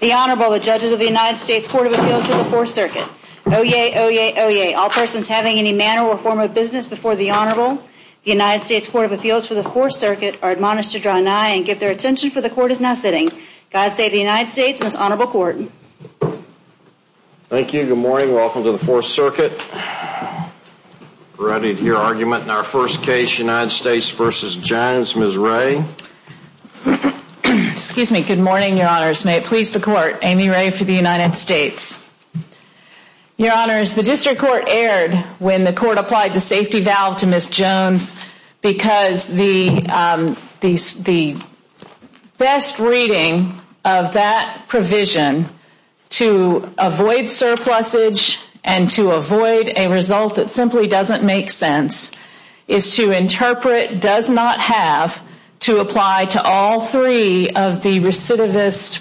The Honorable, the Judges of the United States Court of Appeals for the Fourth Circuit. Oyez! Oyez! Oyez! All persons having any manner or form of business before the Honorable, the United States Court of Appeals for the Fourth Circuit, are admonished to draw nigh and give their attention for the Court is now sitting. God save the United States and this Honorable Court. Thank you. Good morning. Welcome to the Fourth Circuit. We're ready to hear argument in our first case, United States v. Jones. Ms. Ray. Excuse me. Good morning, Your Honors. May it please the Court, Amy Ray for the United States. Your Honors, the District Court erred when the Court applied the safety valve to Ms. Jones because the best reading of that provision to avoid surplusage and to avoid a result that simply doesn't make sense is to interpret does not have to apply to all three of the recidivist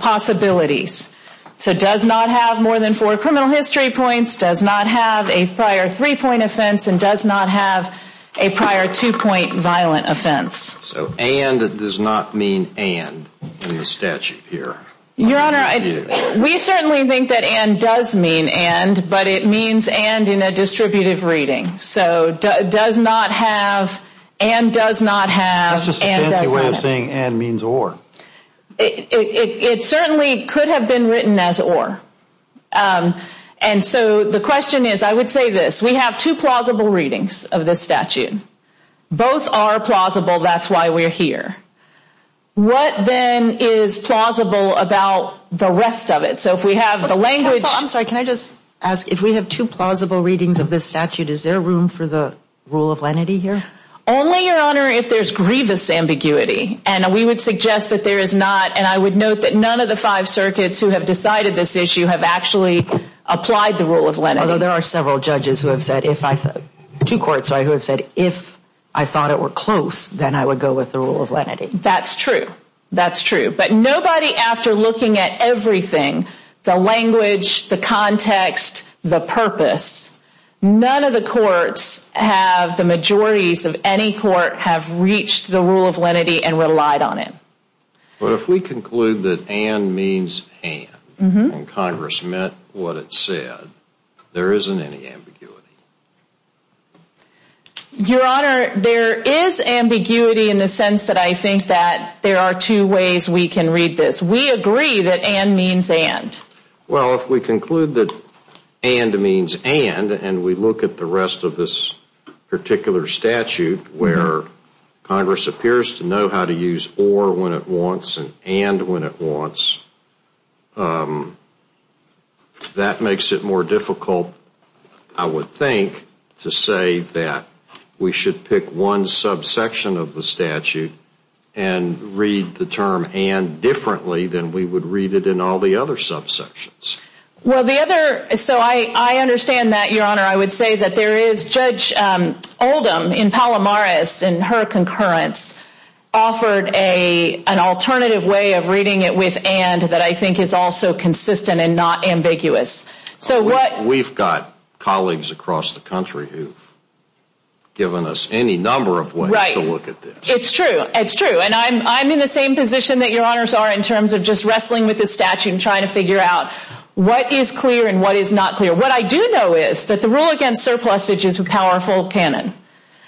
possibilities. So does not have more than four criminal history points, does not have a prior three-point offense, and does not have a prior two-point violent offense. So and does not mean and in the statute here. Your Honor, we certainly think that and does mean and, but it means and in a distributive reading. So does not have, and does not have, and does not have. That's just a fancy way of saying and means or. It certainly could have been written as or. And so the question is, I would say this, we have two plausible readings of this statute. Both are plausible, that's why we're here. What then is plausible about the rest of it? So if we have the language. Counsel, I'm sorry, can I just ask if we have two plausible readings of this statute, is there room for the rule of lenity here? Only, Your Honor, if there's grievous ambiguity. And we would suggest that there is not. And I would note that none of the five circuits who have decided this issue have actually applied the rule of lenity. Although there are several judges who have said, two courts who have said, if I thought it were close, then I would go with the rule of lenity. That's true. That's true. But nobody, after looking at everything, the language, the context, the purpose, none of the courts have, the majorities of any court, have reached the rule of lenity and relied on it. But if we conclude that and means and, and Congress meant what it said, there isn't any ambiguity. Your Honor, there is ambiguity in the sense that I think that there are two ways we can read this. We agree that and means and. Well, if we conclude that and means and, and we look at the rest of this particular statute, where Congress appears to know how to use or when it wants and and when it wants, that makes it more difficult, I would think, to say that we should pick one subsection of the statute and read the term and differently than we would read it in all the other subsections. Well, the other, so I, I understand that, Your Honor. I would say that there is Judge Oldham in Palomares in her concurrence offered a, an alternative way of reading it with and that I think is also consistent and not ambiguous. So what... We've got colleagues across the country who've given us any number of ways to look at this. Right. It's true. It's true. And I'm, I'm in the same position that Your Honors are in terms of just wrestling with this statute and trying to figure out what is clear and what is not clear. What I do know is that the rule against surplusage is a powerful canon.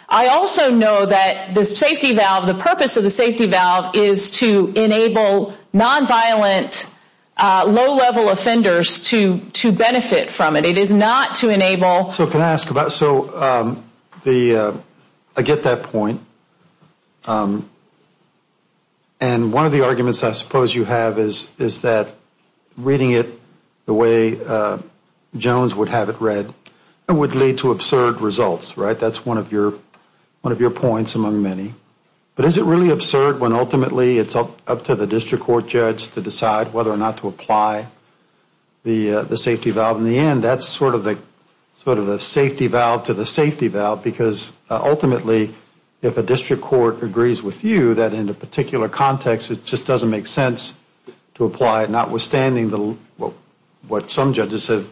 I also know that the safety valve, the purpose of the safety valve is to enable nonviolent low-level offenders to, to benefit from it. It is not to enable... So can I ask about, so the, I get that point. And one of the arguments I suppose you have is, is that reading it the way Jones would have it read would lead to absurd results, right? That's one of your, one of your points among many. But is it really absurd when ultimately it's up to the district court judge to decide whether or not to apply the, the safety valve in the end? That's sort of the, sort of the safety valve to the safety valve because ultimately if a district court agrees with you that in a particular context it just doesn't make sense to apply it notwithstanding the, what some judges have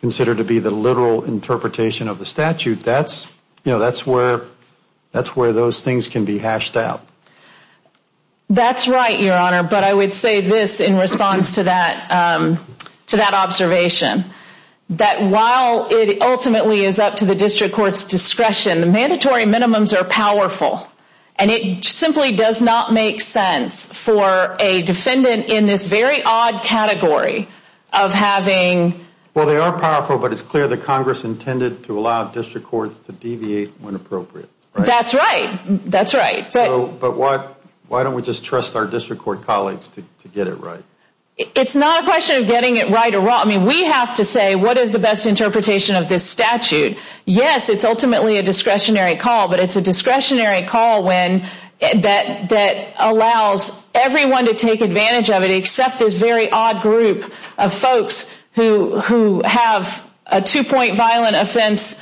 considered to be the literal interpretation of the statute, that's, you know, that's where, that's where those things can be hashed out. That's right, your honor. But I would say this in response to that, to that observation. That while it ultimately is up to the district court's discretion, the mandatory minimums are powerful. And it simply does not make sense for a defendant in this very odd category of having... Well, they are powerful, but it's clear that Congress intended to allow district courts to deviate when appropriate. That's right, that's right. So, but why, why don't we just trust our district court colleagues to get it right? It's not a question of getting it right or wrong. I mean, we have to say what is the best interpretation of this statute. Yes, it's ultimately a discretionary call, but it's a discretionary call when, that allows everyone to take advantage of it except this very odd group of folks who have a two-point violent offense,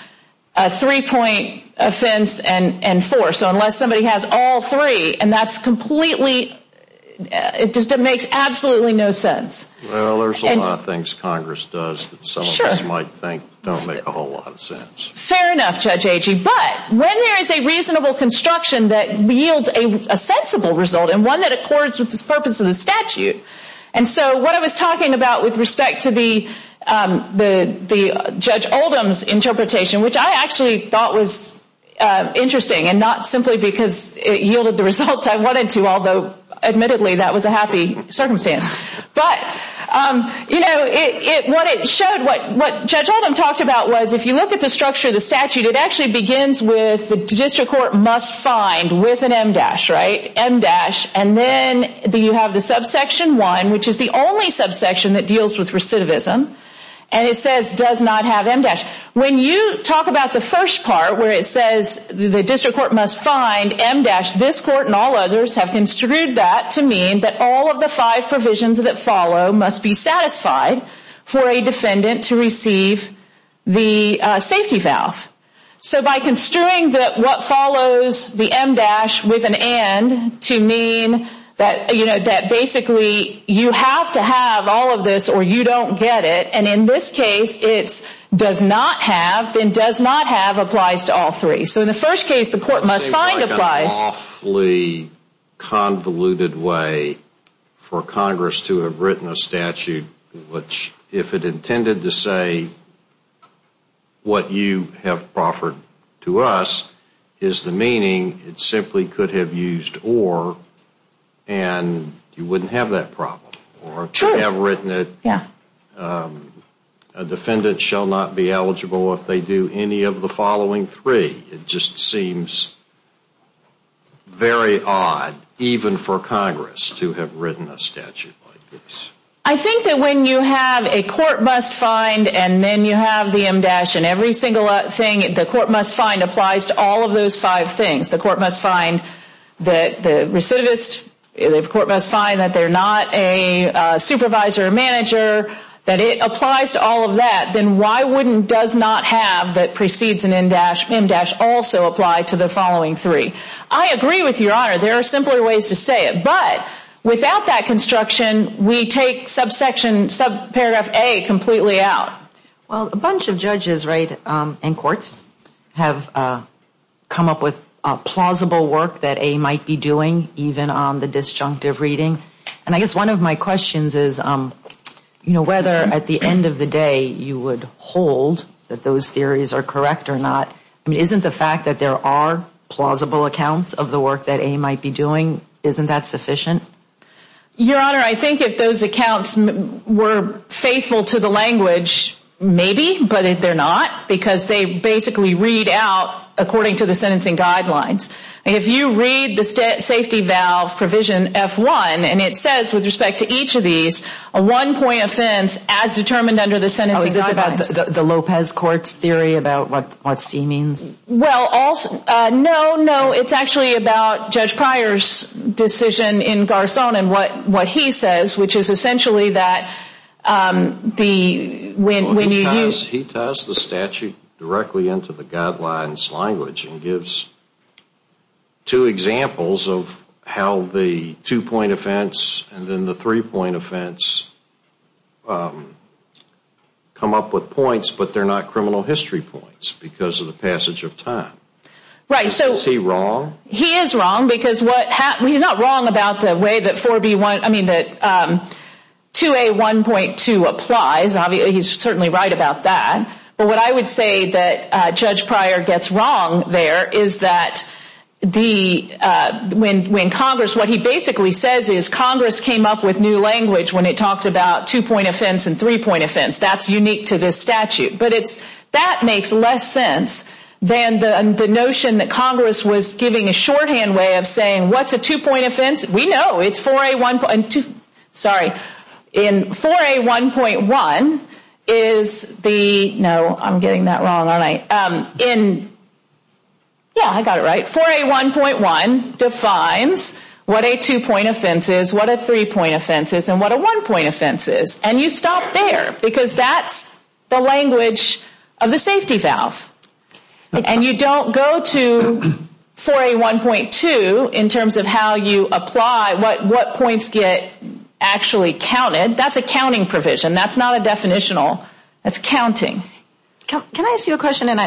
a three-point offense, and four. So unless somebody has all three, and that's completely, it just makes absolutely no sense. Well, there's a lot of things Congress does that some of us might think don't make a whole lot of sense. Fair enough, Judge Agee, but when there is a reasonable construction that yields a sensible result, and one that accords with the purpose of the statute, and so what I was talking about with respect to the Judge Oldham's interpretation, which I actually thought was interesting, and not simply because it yielded the results I wanted to, although admittedly that was a happy circumstance. But, you know, what it showed, what Judge Oldham talked about was if you look at the structure of the statute, it actually begins with the district court must find with an M-dash, right, M-dash, and then you have the subsection one, which is the only subsection that deals with recidivism, and it says does not have M-dash. When you talk about the first part where it says the district court must find M-dash, this court and all others have construed that to mean that all of the five provisions that follow must be satisfied for a defendant to receive the safety valve. So by construing that what follows the M-dash with an and to mean that, you know, that basically you have to have all of this or you don't get it, and in this case it's does not have, then does not have applies to all three. So in the first case the court must find applies. It seems like an awfully convoluted way for Congress to have written a statute which, if it intended to say what you have proffered to us is the meaning, it simply could have used or and you wouldn't have that problem. Sure. Or to have written it a defendant shall not be eligible if they do any of the following three. It just seems very odd even for Congress to have written a statute like this. I think that when you have a court must find and then you have the M-dash and every single thing the court must find applies to all of those five things. The court must find that the recidivist, the court must find that they're not a supervisor or manager, that it applies to all of that, then why wouldn't does not have that precedes an M-dash also apply to the following three? I agree with your Honor. There are simpler ways to say it. But without that construction we take subsection, subparagraph A completely out. Well, a bunch of judges, right, in courts have come up with plausible work that A might be doing, even on the disjunctive reading. And I guess one of my questions is, you know, whether at the end of the day you would hold that those theories are correct or not. I mean, isn't the fact that there are plausible accounts of the work that A might be doing, isn't that sufficient? Your Honor, I think if those accounts were faithful to the language, maybe, but if they're not, because they basically read out according to the sentencing guidelines. If you read the safety valve provision F-1, and it says with respect to each of these, a one-point offense as determined under the sentencing guidelines. Oh, is this about the Lopez Court's theory about what C means? Well, no, no, it's actually about Judge Pryor's decision in Garcon and what he says, which is essentially that when you use... ...directly into the guidelines language and gives two examples of how the two-point offense and then the three-point offense come up with points, but they're not criminal history points because of the passage of time. Right, so... Is he wrong? He is wrong, because what...he's not wrong about the way that 4B1...I mean, that 2A1.2 applies. Obviously, he's certainly right about that. But what I would say that Judge Pryor gets wrong there is that the... ...when Congress...what he basically says is Congress came up with new language when it talked about two-point offense and three-point offense. That's unique to this statute. But it's...that makes less sense than the notion that Congress was giving a shorthand way of saying, what's a two-point offense? We know it's 4A1.2...sorry. In 4A1.1 is the...no, I'm getting that wrong, aren't I? In...yeah, I got it right. 4A1.1 defines what a two-point offense is, what a three-point offense is, and what a one-point offense is. And you stop there, because that's the language of the safety valve. And you don't go to 4A1.2 in terms of how you apply what points get actually counted. That's a counting provision. That's not a definitional. That's counting. Can I ask you a question? And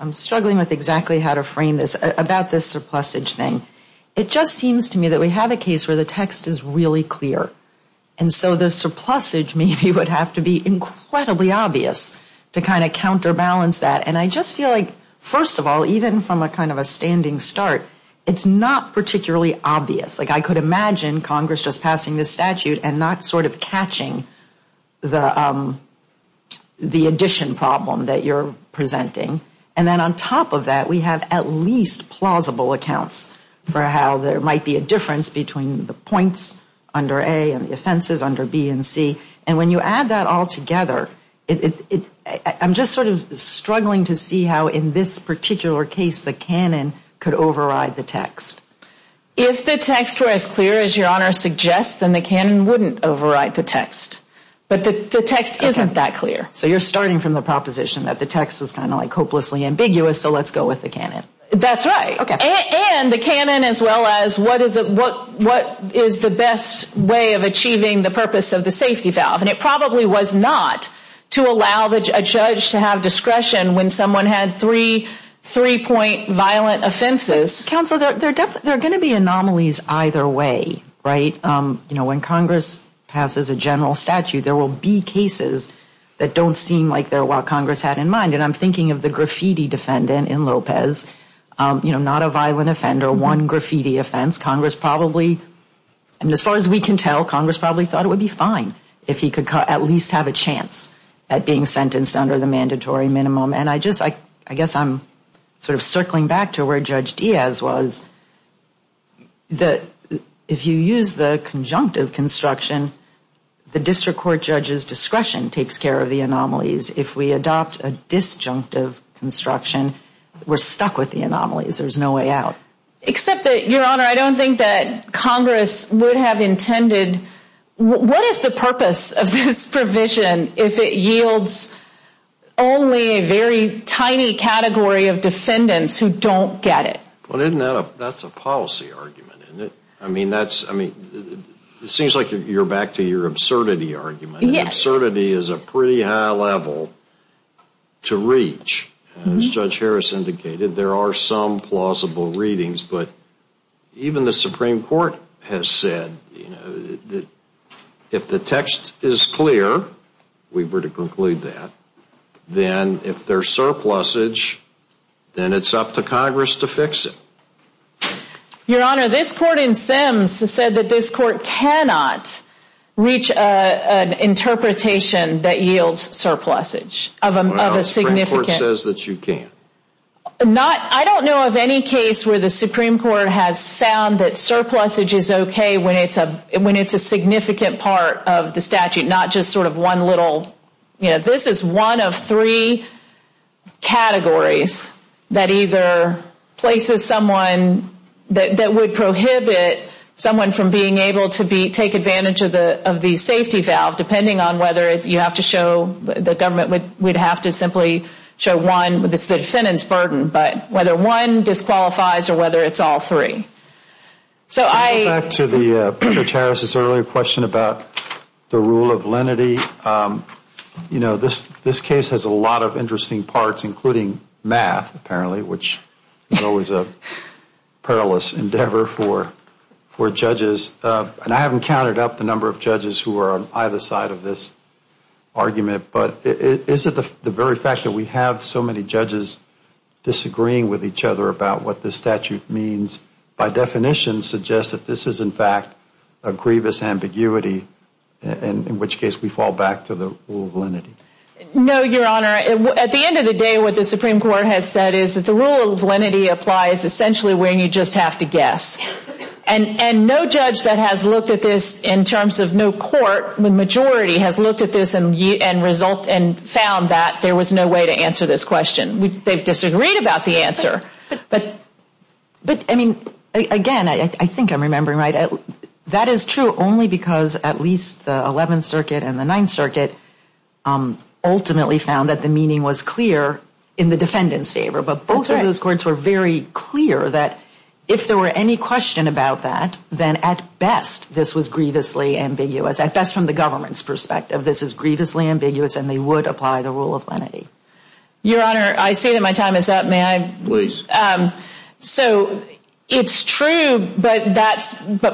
I'm struggling with exactly how to frame this about this surplusage thing. It just seems to me that we have a case where the text is really clear. And so the surplusage maybe would have to be incredibly obvious to kind of counterbalance that. And I just feel like, first of all, even from a kind of a standing start, it's not particularly obvious. Like I could imagine Congress just passing this statute and not sort of catching the addition problem that you're presenting. And then on top of that, we have at least plausible accounts for how there might be a difference between the points under A and the offenses under B and C. And when you add that all together, I'm just sort of struggling to see how in this particular case the canon could override the text. If the text were as clear as Your Honor suggests, then the canon wouldn't override the text. But the text isn't that clear. So you're starting from the proposition that the text is kind of like hopelessly ambiguous, so let's go with the canon. That's right. Okay. And the canon as well as what is the best way of achieving the purpose of the safety valve. And it probably was not to allow a judge to have discretion when someone had three three-point violent offenses. Counsel, there are going to be anomalies either way, right? You know, when Congress passes a general statute, there will be cases that don't seem like they're what Congress had in mind. And I'm thinking of the graffiti defendant in Lopez. You know, not a violent offender, one graffiti offense. Congress probably, I mean, as far as we can tell, Congress probably thought it would be fine if he could at least have a chance at being sentenced under the mandatory minimum. And I just, I guess I'm sort of circling back to where Judge Diaz was. If you use the conjunctive construction, the district court judge's discretion takes care of the anomalies. If we adopt a disjunctive construction, we're stuck with the anomalies. There's no way out. Except that, Your Honor, I don't think that Congress would have intended, what is the purpose of this provision if it yields only a very tiny category of defendants who don't get it? Well, that's a policy argument, isn't it? I mean, that's, I mean, it seems like you're back to your absurdity argument. Yes. Absurdity is a pretty high level to reach. As Judge Harris indicated, there are some plausible readings. But even the Supreme Court has said, you know, that if the text is clear, we were to conclude that, then if there's surplusage, then it's up to Congress to fix it. Your Honor, this court in Sims has said that this court cannot reach an interpretation that yields surplusage. Well, the Supreme Court says that you can't. I don't know of any case where the Supreme Court has found that surplusage is okay when it's a significant part of the statute, not just sort of one little, you know. That either places someone, that would prohibit someone from being able to take advantage of the safety valve, depending on whether you have to show, the government would have to simply show one with the defendant's burden. But whether one disqualifies or whether it's all three. Back to Judge Harris' earlier question about the rule of lenity. You know, this case has a lot of interesting parts, including math, apparently, which is always a perilous endeavor for judges. And I haven't counted up the number of judges who are on either side of this argument, but is it the very fact that we have so many judges disagreeing with each other about what this statute means, by definition suggests that this is in fact a grievous ambiguity, in which case we fall back to the rule of lenity. No, Your Honor. At the end of the day, what the Supreme Court has said is that the rule of lenity applies essentially when you just have to guess. And no judge that has looked at this in terms of no court, the majority has looked at this and found that there was no way to answer this question. They've disagreed about the answer. But, I mean, again, I think I'm remembering right. That is true only because at least the Eleventh Circuit and the Ninth Circuit ultimately found that the meaning was clear in the defendant's favor. But both of those courts were very clear that if there were any question about that, then at best, this was grievously ambiguous. At best, from the government's perspective, this is grievously ambiguous and they would apply the rule of lenity. Your Honor, I say that my time is up. May I? Please. So it's true, but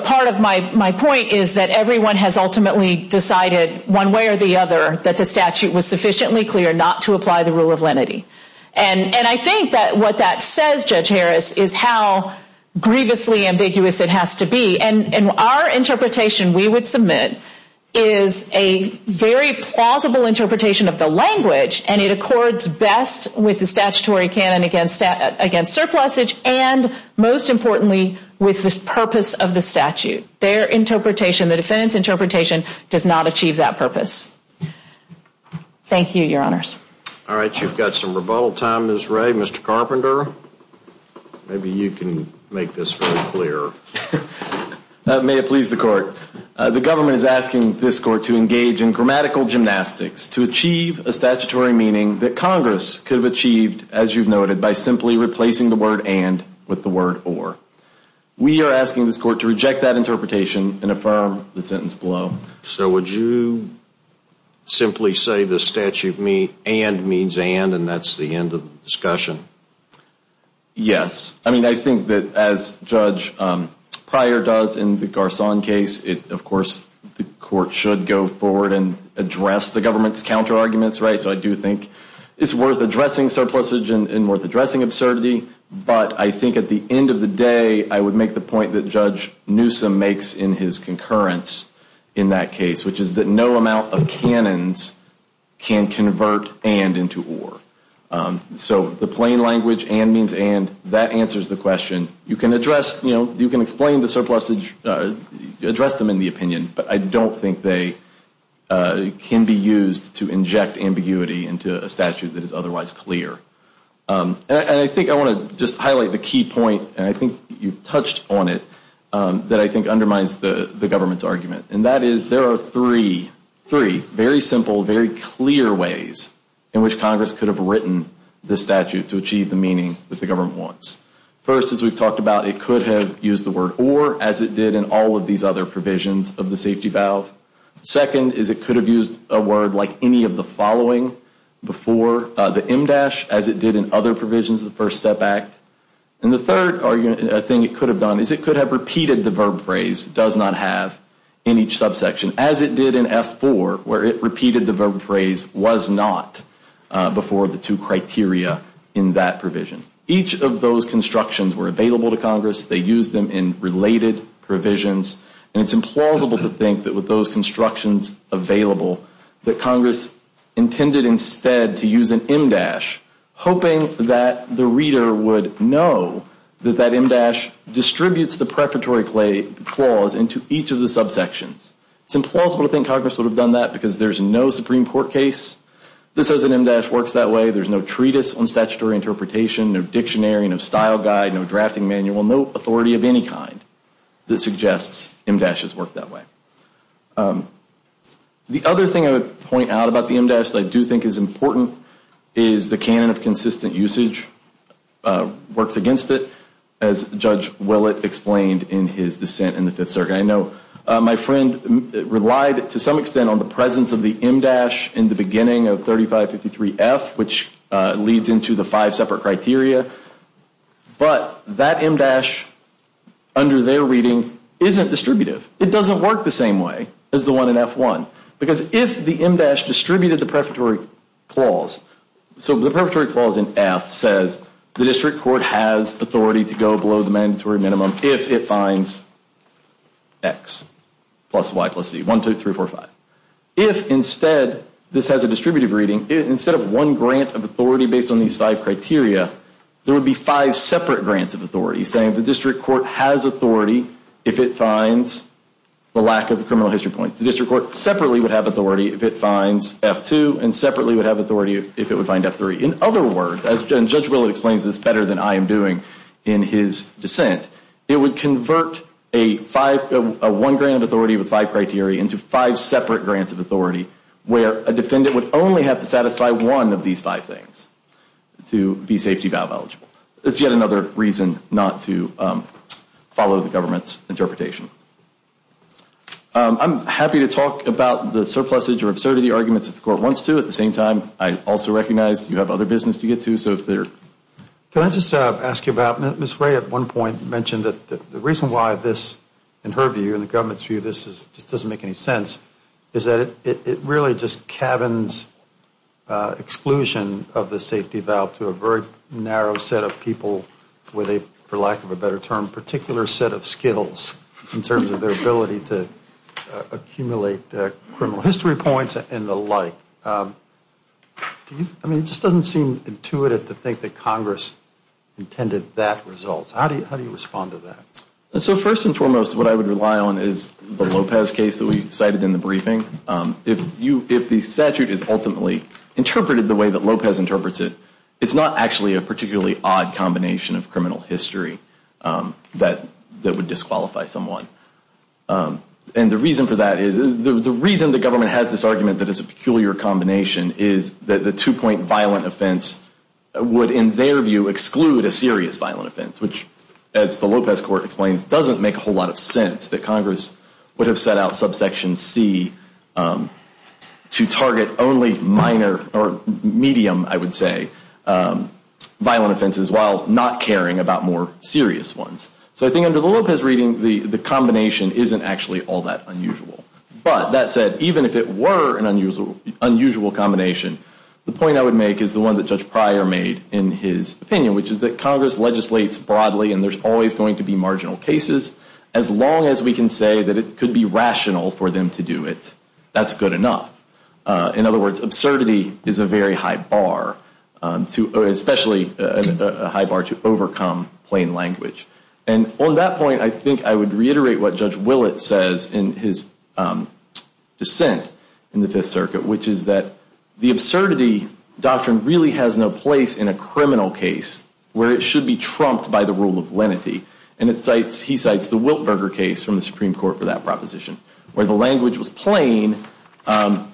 part of my point is that everyone has ultimately decided one way or the other that the statute was sufficiently clear not to apply the rule of lenity. And I think that what that says, Judge Harris, is how grievously ambiguous it has to be. And our interpretation, we would submit, is a very plausible interpretation of the language. And it accords best with the statutory canon against surplusage and, most importantly, with the purpose of the statute. Their interpretation, the defendant's interpretation, does not achieve that purpose. Thank you, Your Honors. All right. You've got some rebuttal time, Ms. Ray. Mr. Carpenter, maybe you can make this very clear. May it please the Court. The government is asking this Court to engage in grammatical gymnastics to achieve a statutory meaning that Congress could have achieved, as you've noted, by simply replacing the word and with the word or. We are asking this Court to reject that interpretation and affirm the sentence below. So would you simply say the statute and means and, and that's the end of the discussion? Yes. I mean, I think that, as Judge Pryor does in the Garcon case, of course, the Court should go forward and address the government's counterarguments. Right? So I do think it's worth addressing surplusage and worth addressing absurdity. But I think at the end of the day, I would make the point that Judge Newsom makes in his concurrence in that case, which is that no amount of canons can convert and into or. So the plain language, and means and, that answers the question. You can address, you know, you can explain the surplusage, address them in the opinion, but I don't think they can be used to inject ambiguity into a statute that is otherwise clear. And I think I want to just highlight the key point, and I think you've touched on it, that I think undermines the government's argument. And that is there are three, three very simple, very clear ways in which Congress could have written the statute to achieve the meaning that the government wants. First, as we've talked about, it could have used the word or as it did in all of these other provisions of the safety valve. Second is it could have used a word like any of the following before the MDASH as it did in other provisions of the First Step Act. And the third thing it could have done is it could have repeated the verb phrase does not have in each subsection as it did in F4, where it repeated the verb phrase was not before the two criteria in that provision. Each of those constructions were available to Congress. They used them in related provisions, and it's implausible to think that with those constructions available that Congress intended instead to use an MDASH, hoping that the reader would know that that MDASH distributes the prefatory clause into each of the subsections. It's implausible to think Congress would have done that because there's no Supreme Court case that says an MDASH works that way. There's no treatise on statutory interpretation, no dictionary, no style guide, no drafting manual, no authority of any kind that suggests MDASH has worked that way. The other thing I would point out about the MDASH that I do think is important is the canon of consistent usage works against it, as Judge Willett explained in his dissent in the Fifth Circuit. I know my friend relied to some extent on the presence of the MDASH in the beginning of 3553F, which leads into the five separate criteria, but that MDASH under their reading isn't distributive. It doesn't work the same way as the one in F1, because if the MDASH distributed the prefatory clause, so the prefatory clause in F says the district court has authority to go below the mandatory minimum if it finds X plus Y plus Z, 1, 2, 3, 4, 5. If instead, this has a distributive reading, instead of one grant of authority based on these five criteria, there would be five separate grants of authority saying the district court has authority if it finds the lack of criminal history points. And the district court separately would have authority if it finds F2 and separately would have authority if it would find F3. In other words, and Judge Willett explains this better than I am doing in his dissent, it would convert a one grant of authority with five criteria into five separate grants of authority where a defendant would only have to satisfy one of these five things to be safety valve eligible. It's yet another reason not to follow the government's interpretation. I'm happy to talk about the surpluses or absurdity arguments if the court wants to. At the same time, I also recognize you have other business to get to. Can I just ask you about, Ms. Ray at one point mentioned that the reason why this, in her view, in the government's view, this just doesn't make any sense is that it really just cabins exclusion of the safety valve to a very narrow set of people with a, for lack of a better term, particular set of skills in terms of their ability to accumulate criminal history points and the like. I mean, it just doesn't seem intuitive to think that Congress intended that result. How do you respond to that? So first and foremost, what I would rely on is the Lopez case that we cited in the briefing. If the statute is ultimately interpreted the way that Lopez interprets it, it's not actually a particularly odd combination of criminal history that would disqualify someone. And the reason for that is, the reason the government has this argument that it's a peculiar combination is that the two-point violent offense would, in their view, exclude a serious violent offense, which, as the Lopez court explains, doesn't make a whole lot of sense, that Congress would have set out subsection C to target only minor or medium, I would say, violent offenses while not caring about more serious ones. So I think under the Lopez reading, the combination isn't actually all that unusual. But that said, even if it were an unusual combination, the point I would make is the one that Judge Pryor made in his opinion, which is that Congress legislates broadly and there's always going to be marginal cases as long as we can say that it could be rational for them to do it, that's good enough. In other words, absurdity is a very high bar, especially a high bar to overcome plain language. And on that point, I think I would reiterate what Judge Willett says in his dissent in the Fifth Circuit, which is that the absurdity doctrine really has no place in a criminal case where it should be trumped by the rule of lenity. And he cites the Wiltberger case from the Supreme Court for that proposition, where the language was plain,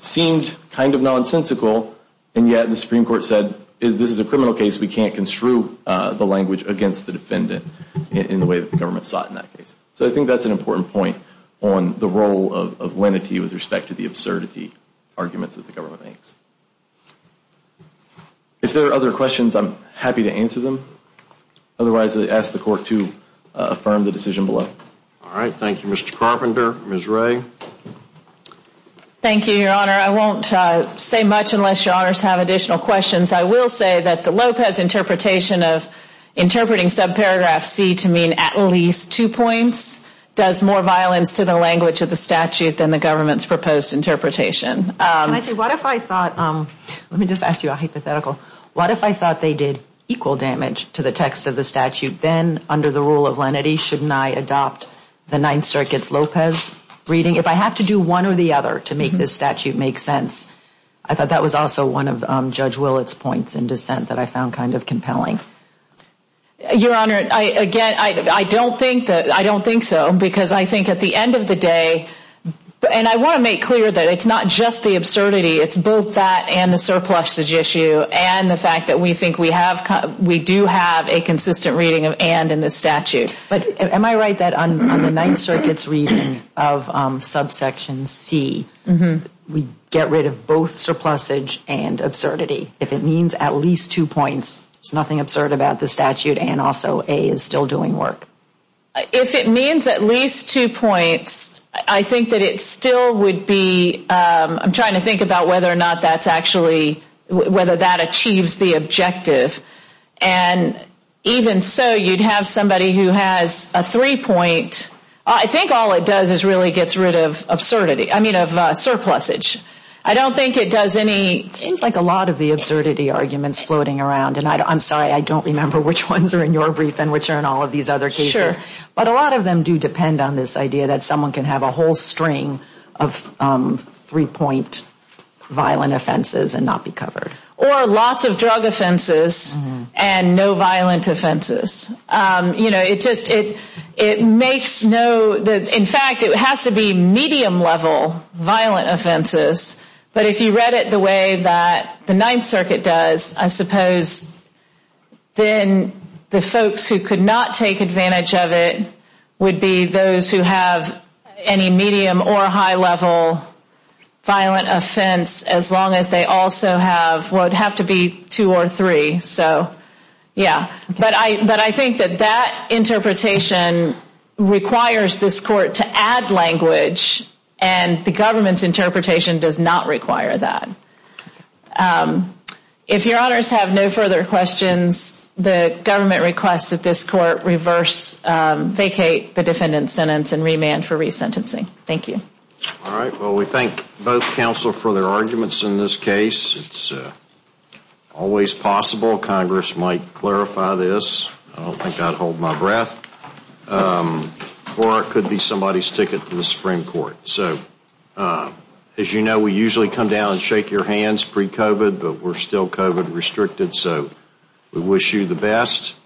seemed kind of nonsensical, and yet the Supreme Court said, this is a criminal case, we can't construe the language against the defendant in the way that the government sought in that case. So I think that's an important point on the role of lenity with respect to the absurdity arguments that the government makes. If there are other questions, I'm happy to answer them. Otherwise, I ask the Court to affirm the decision below. All right. Thank you, Mr. Carpenter. Ms. Wray. Thank you, Your Honor. I won't say much unless Your Honors have additional questions. I will say that the Lopez interpretation of interpreting subparagraph C to mean at least two points does more violence to the language of the statute than the government's proposed interpretation. Can I say, what if I thought, let me just ask you a hypothetical, what if I thought they did equal damage to the text of the statute, then under the rule of lenity, shouldn't I adopt the Ninth Circuit's Lopez reading? If I have to do one or the other to make this statute make sense, I thought that was also one of Judge Willett's points in dissent that I found kind of compelling. Your Honor, again, I don't think so, because I think at the end of the day, and I want to make clear that it's not just the absurdity, it's both that and the surplusage issue and the fact that we do have a consistent reading of and in the statute. But am I right that on the Ninth Circuit's reading of subsection C, we get rid of both surplusage and absurdity if it means at least two points? There's nothing absurd about the statute and also A is still doing work. If it means at least two points, I think that it still would be, I'm trying to think about whether or not that's actually, whether that achieves the objective. And even so, you'd have somebody who has a three-point, I think all it does is really gets rid of absurdity, I mean of surplusage. I don't think it does any, it seems like a lot of the absurdity arguments floating around, and I'm sorry, I don't remember which ones are in your brief and which are in all of these other cases. But a lot of them do depend on this idea that someone can have a whole string of three-point violent offenses and not be covered. Or lots of drug offenses and no violent offenses. You know, it just, it makes no, in fact, it has to be medium-level violent offenses, but if you read it the way that the Ninth Circuit does, I suppose, then the folks who could not take advantage of it would be those who have any medium or high-level violent offense, as long as they also have, would have to be two or three. So, yeah, but I think that that interpretation requires this court to add language, and the government's interpretation does not require that. If your honors have no further questions, the government requests that this court reverse, vacate the defendant's sentence and remand for resentencing. Thank you. All right. Well, we thank both counsel for their arguments in this case. It's always possible Congress might clarify this. I don't think I'd hold my breath. Or it could be somebody's ticket to the Supreme Court. All right. So, as you know, we usually come down and shake your hands pre-COVID, but we're still COVID-restricted, so we wish you the best.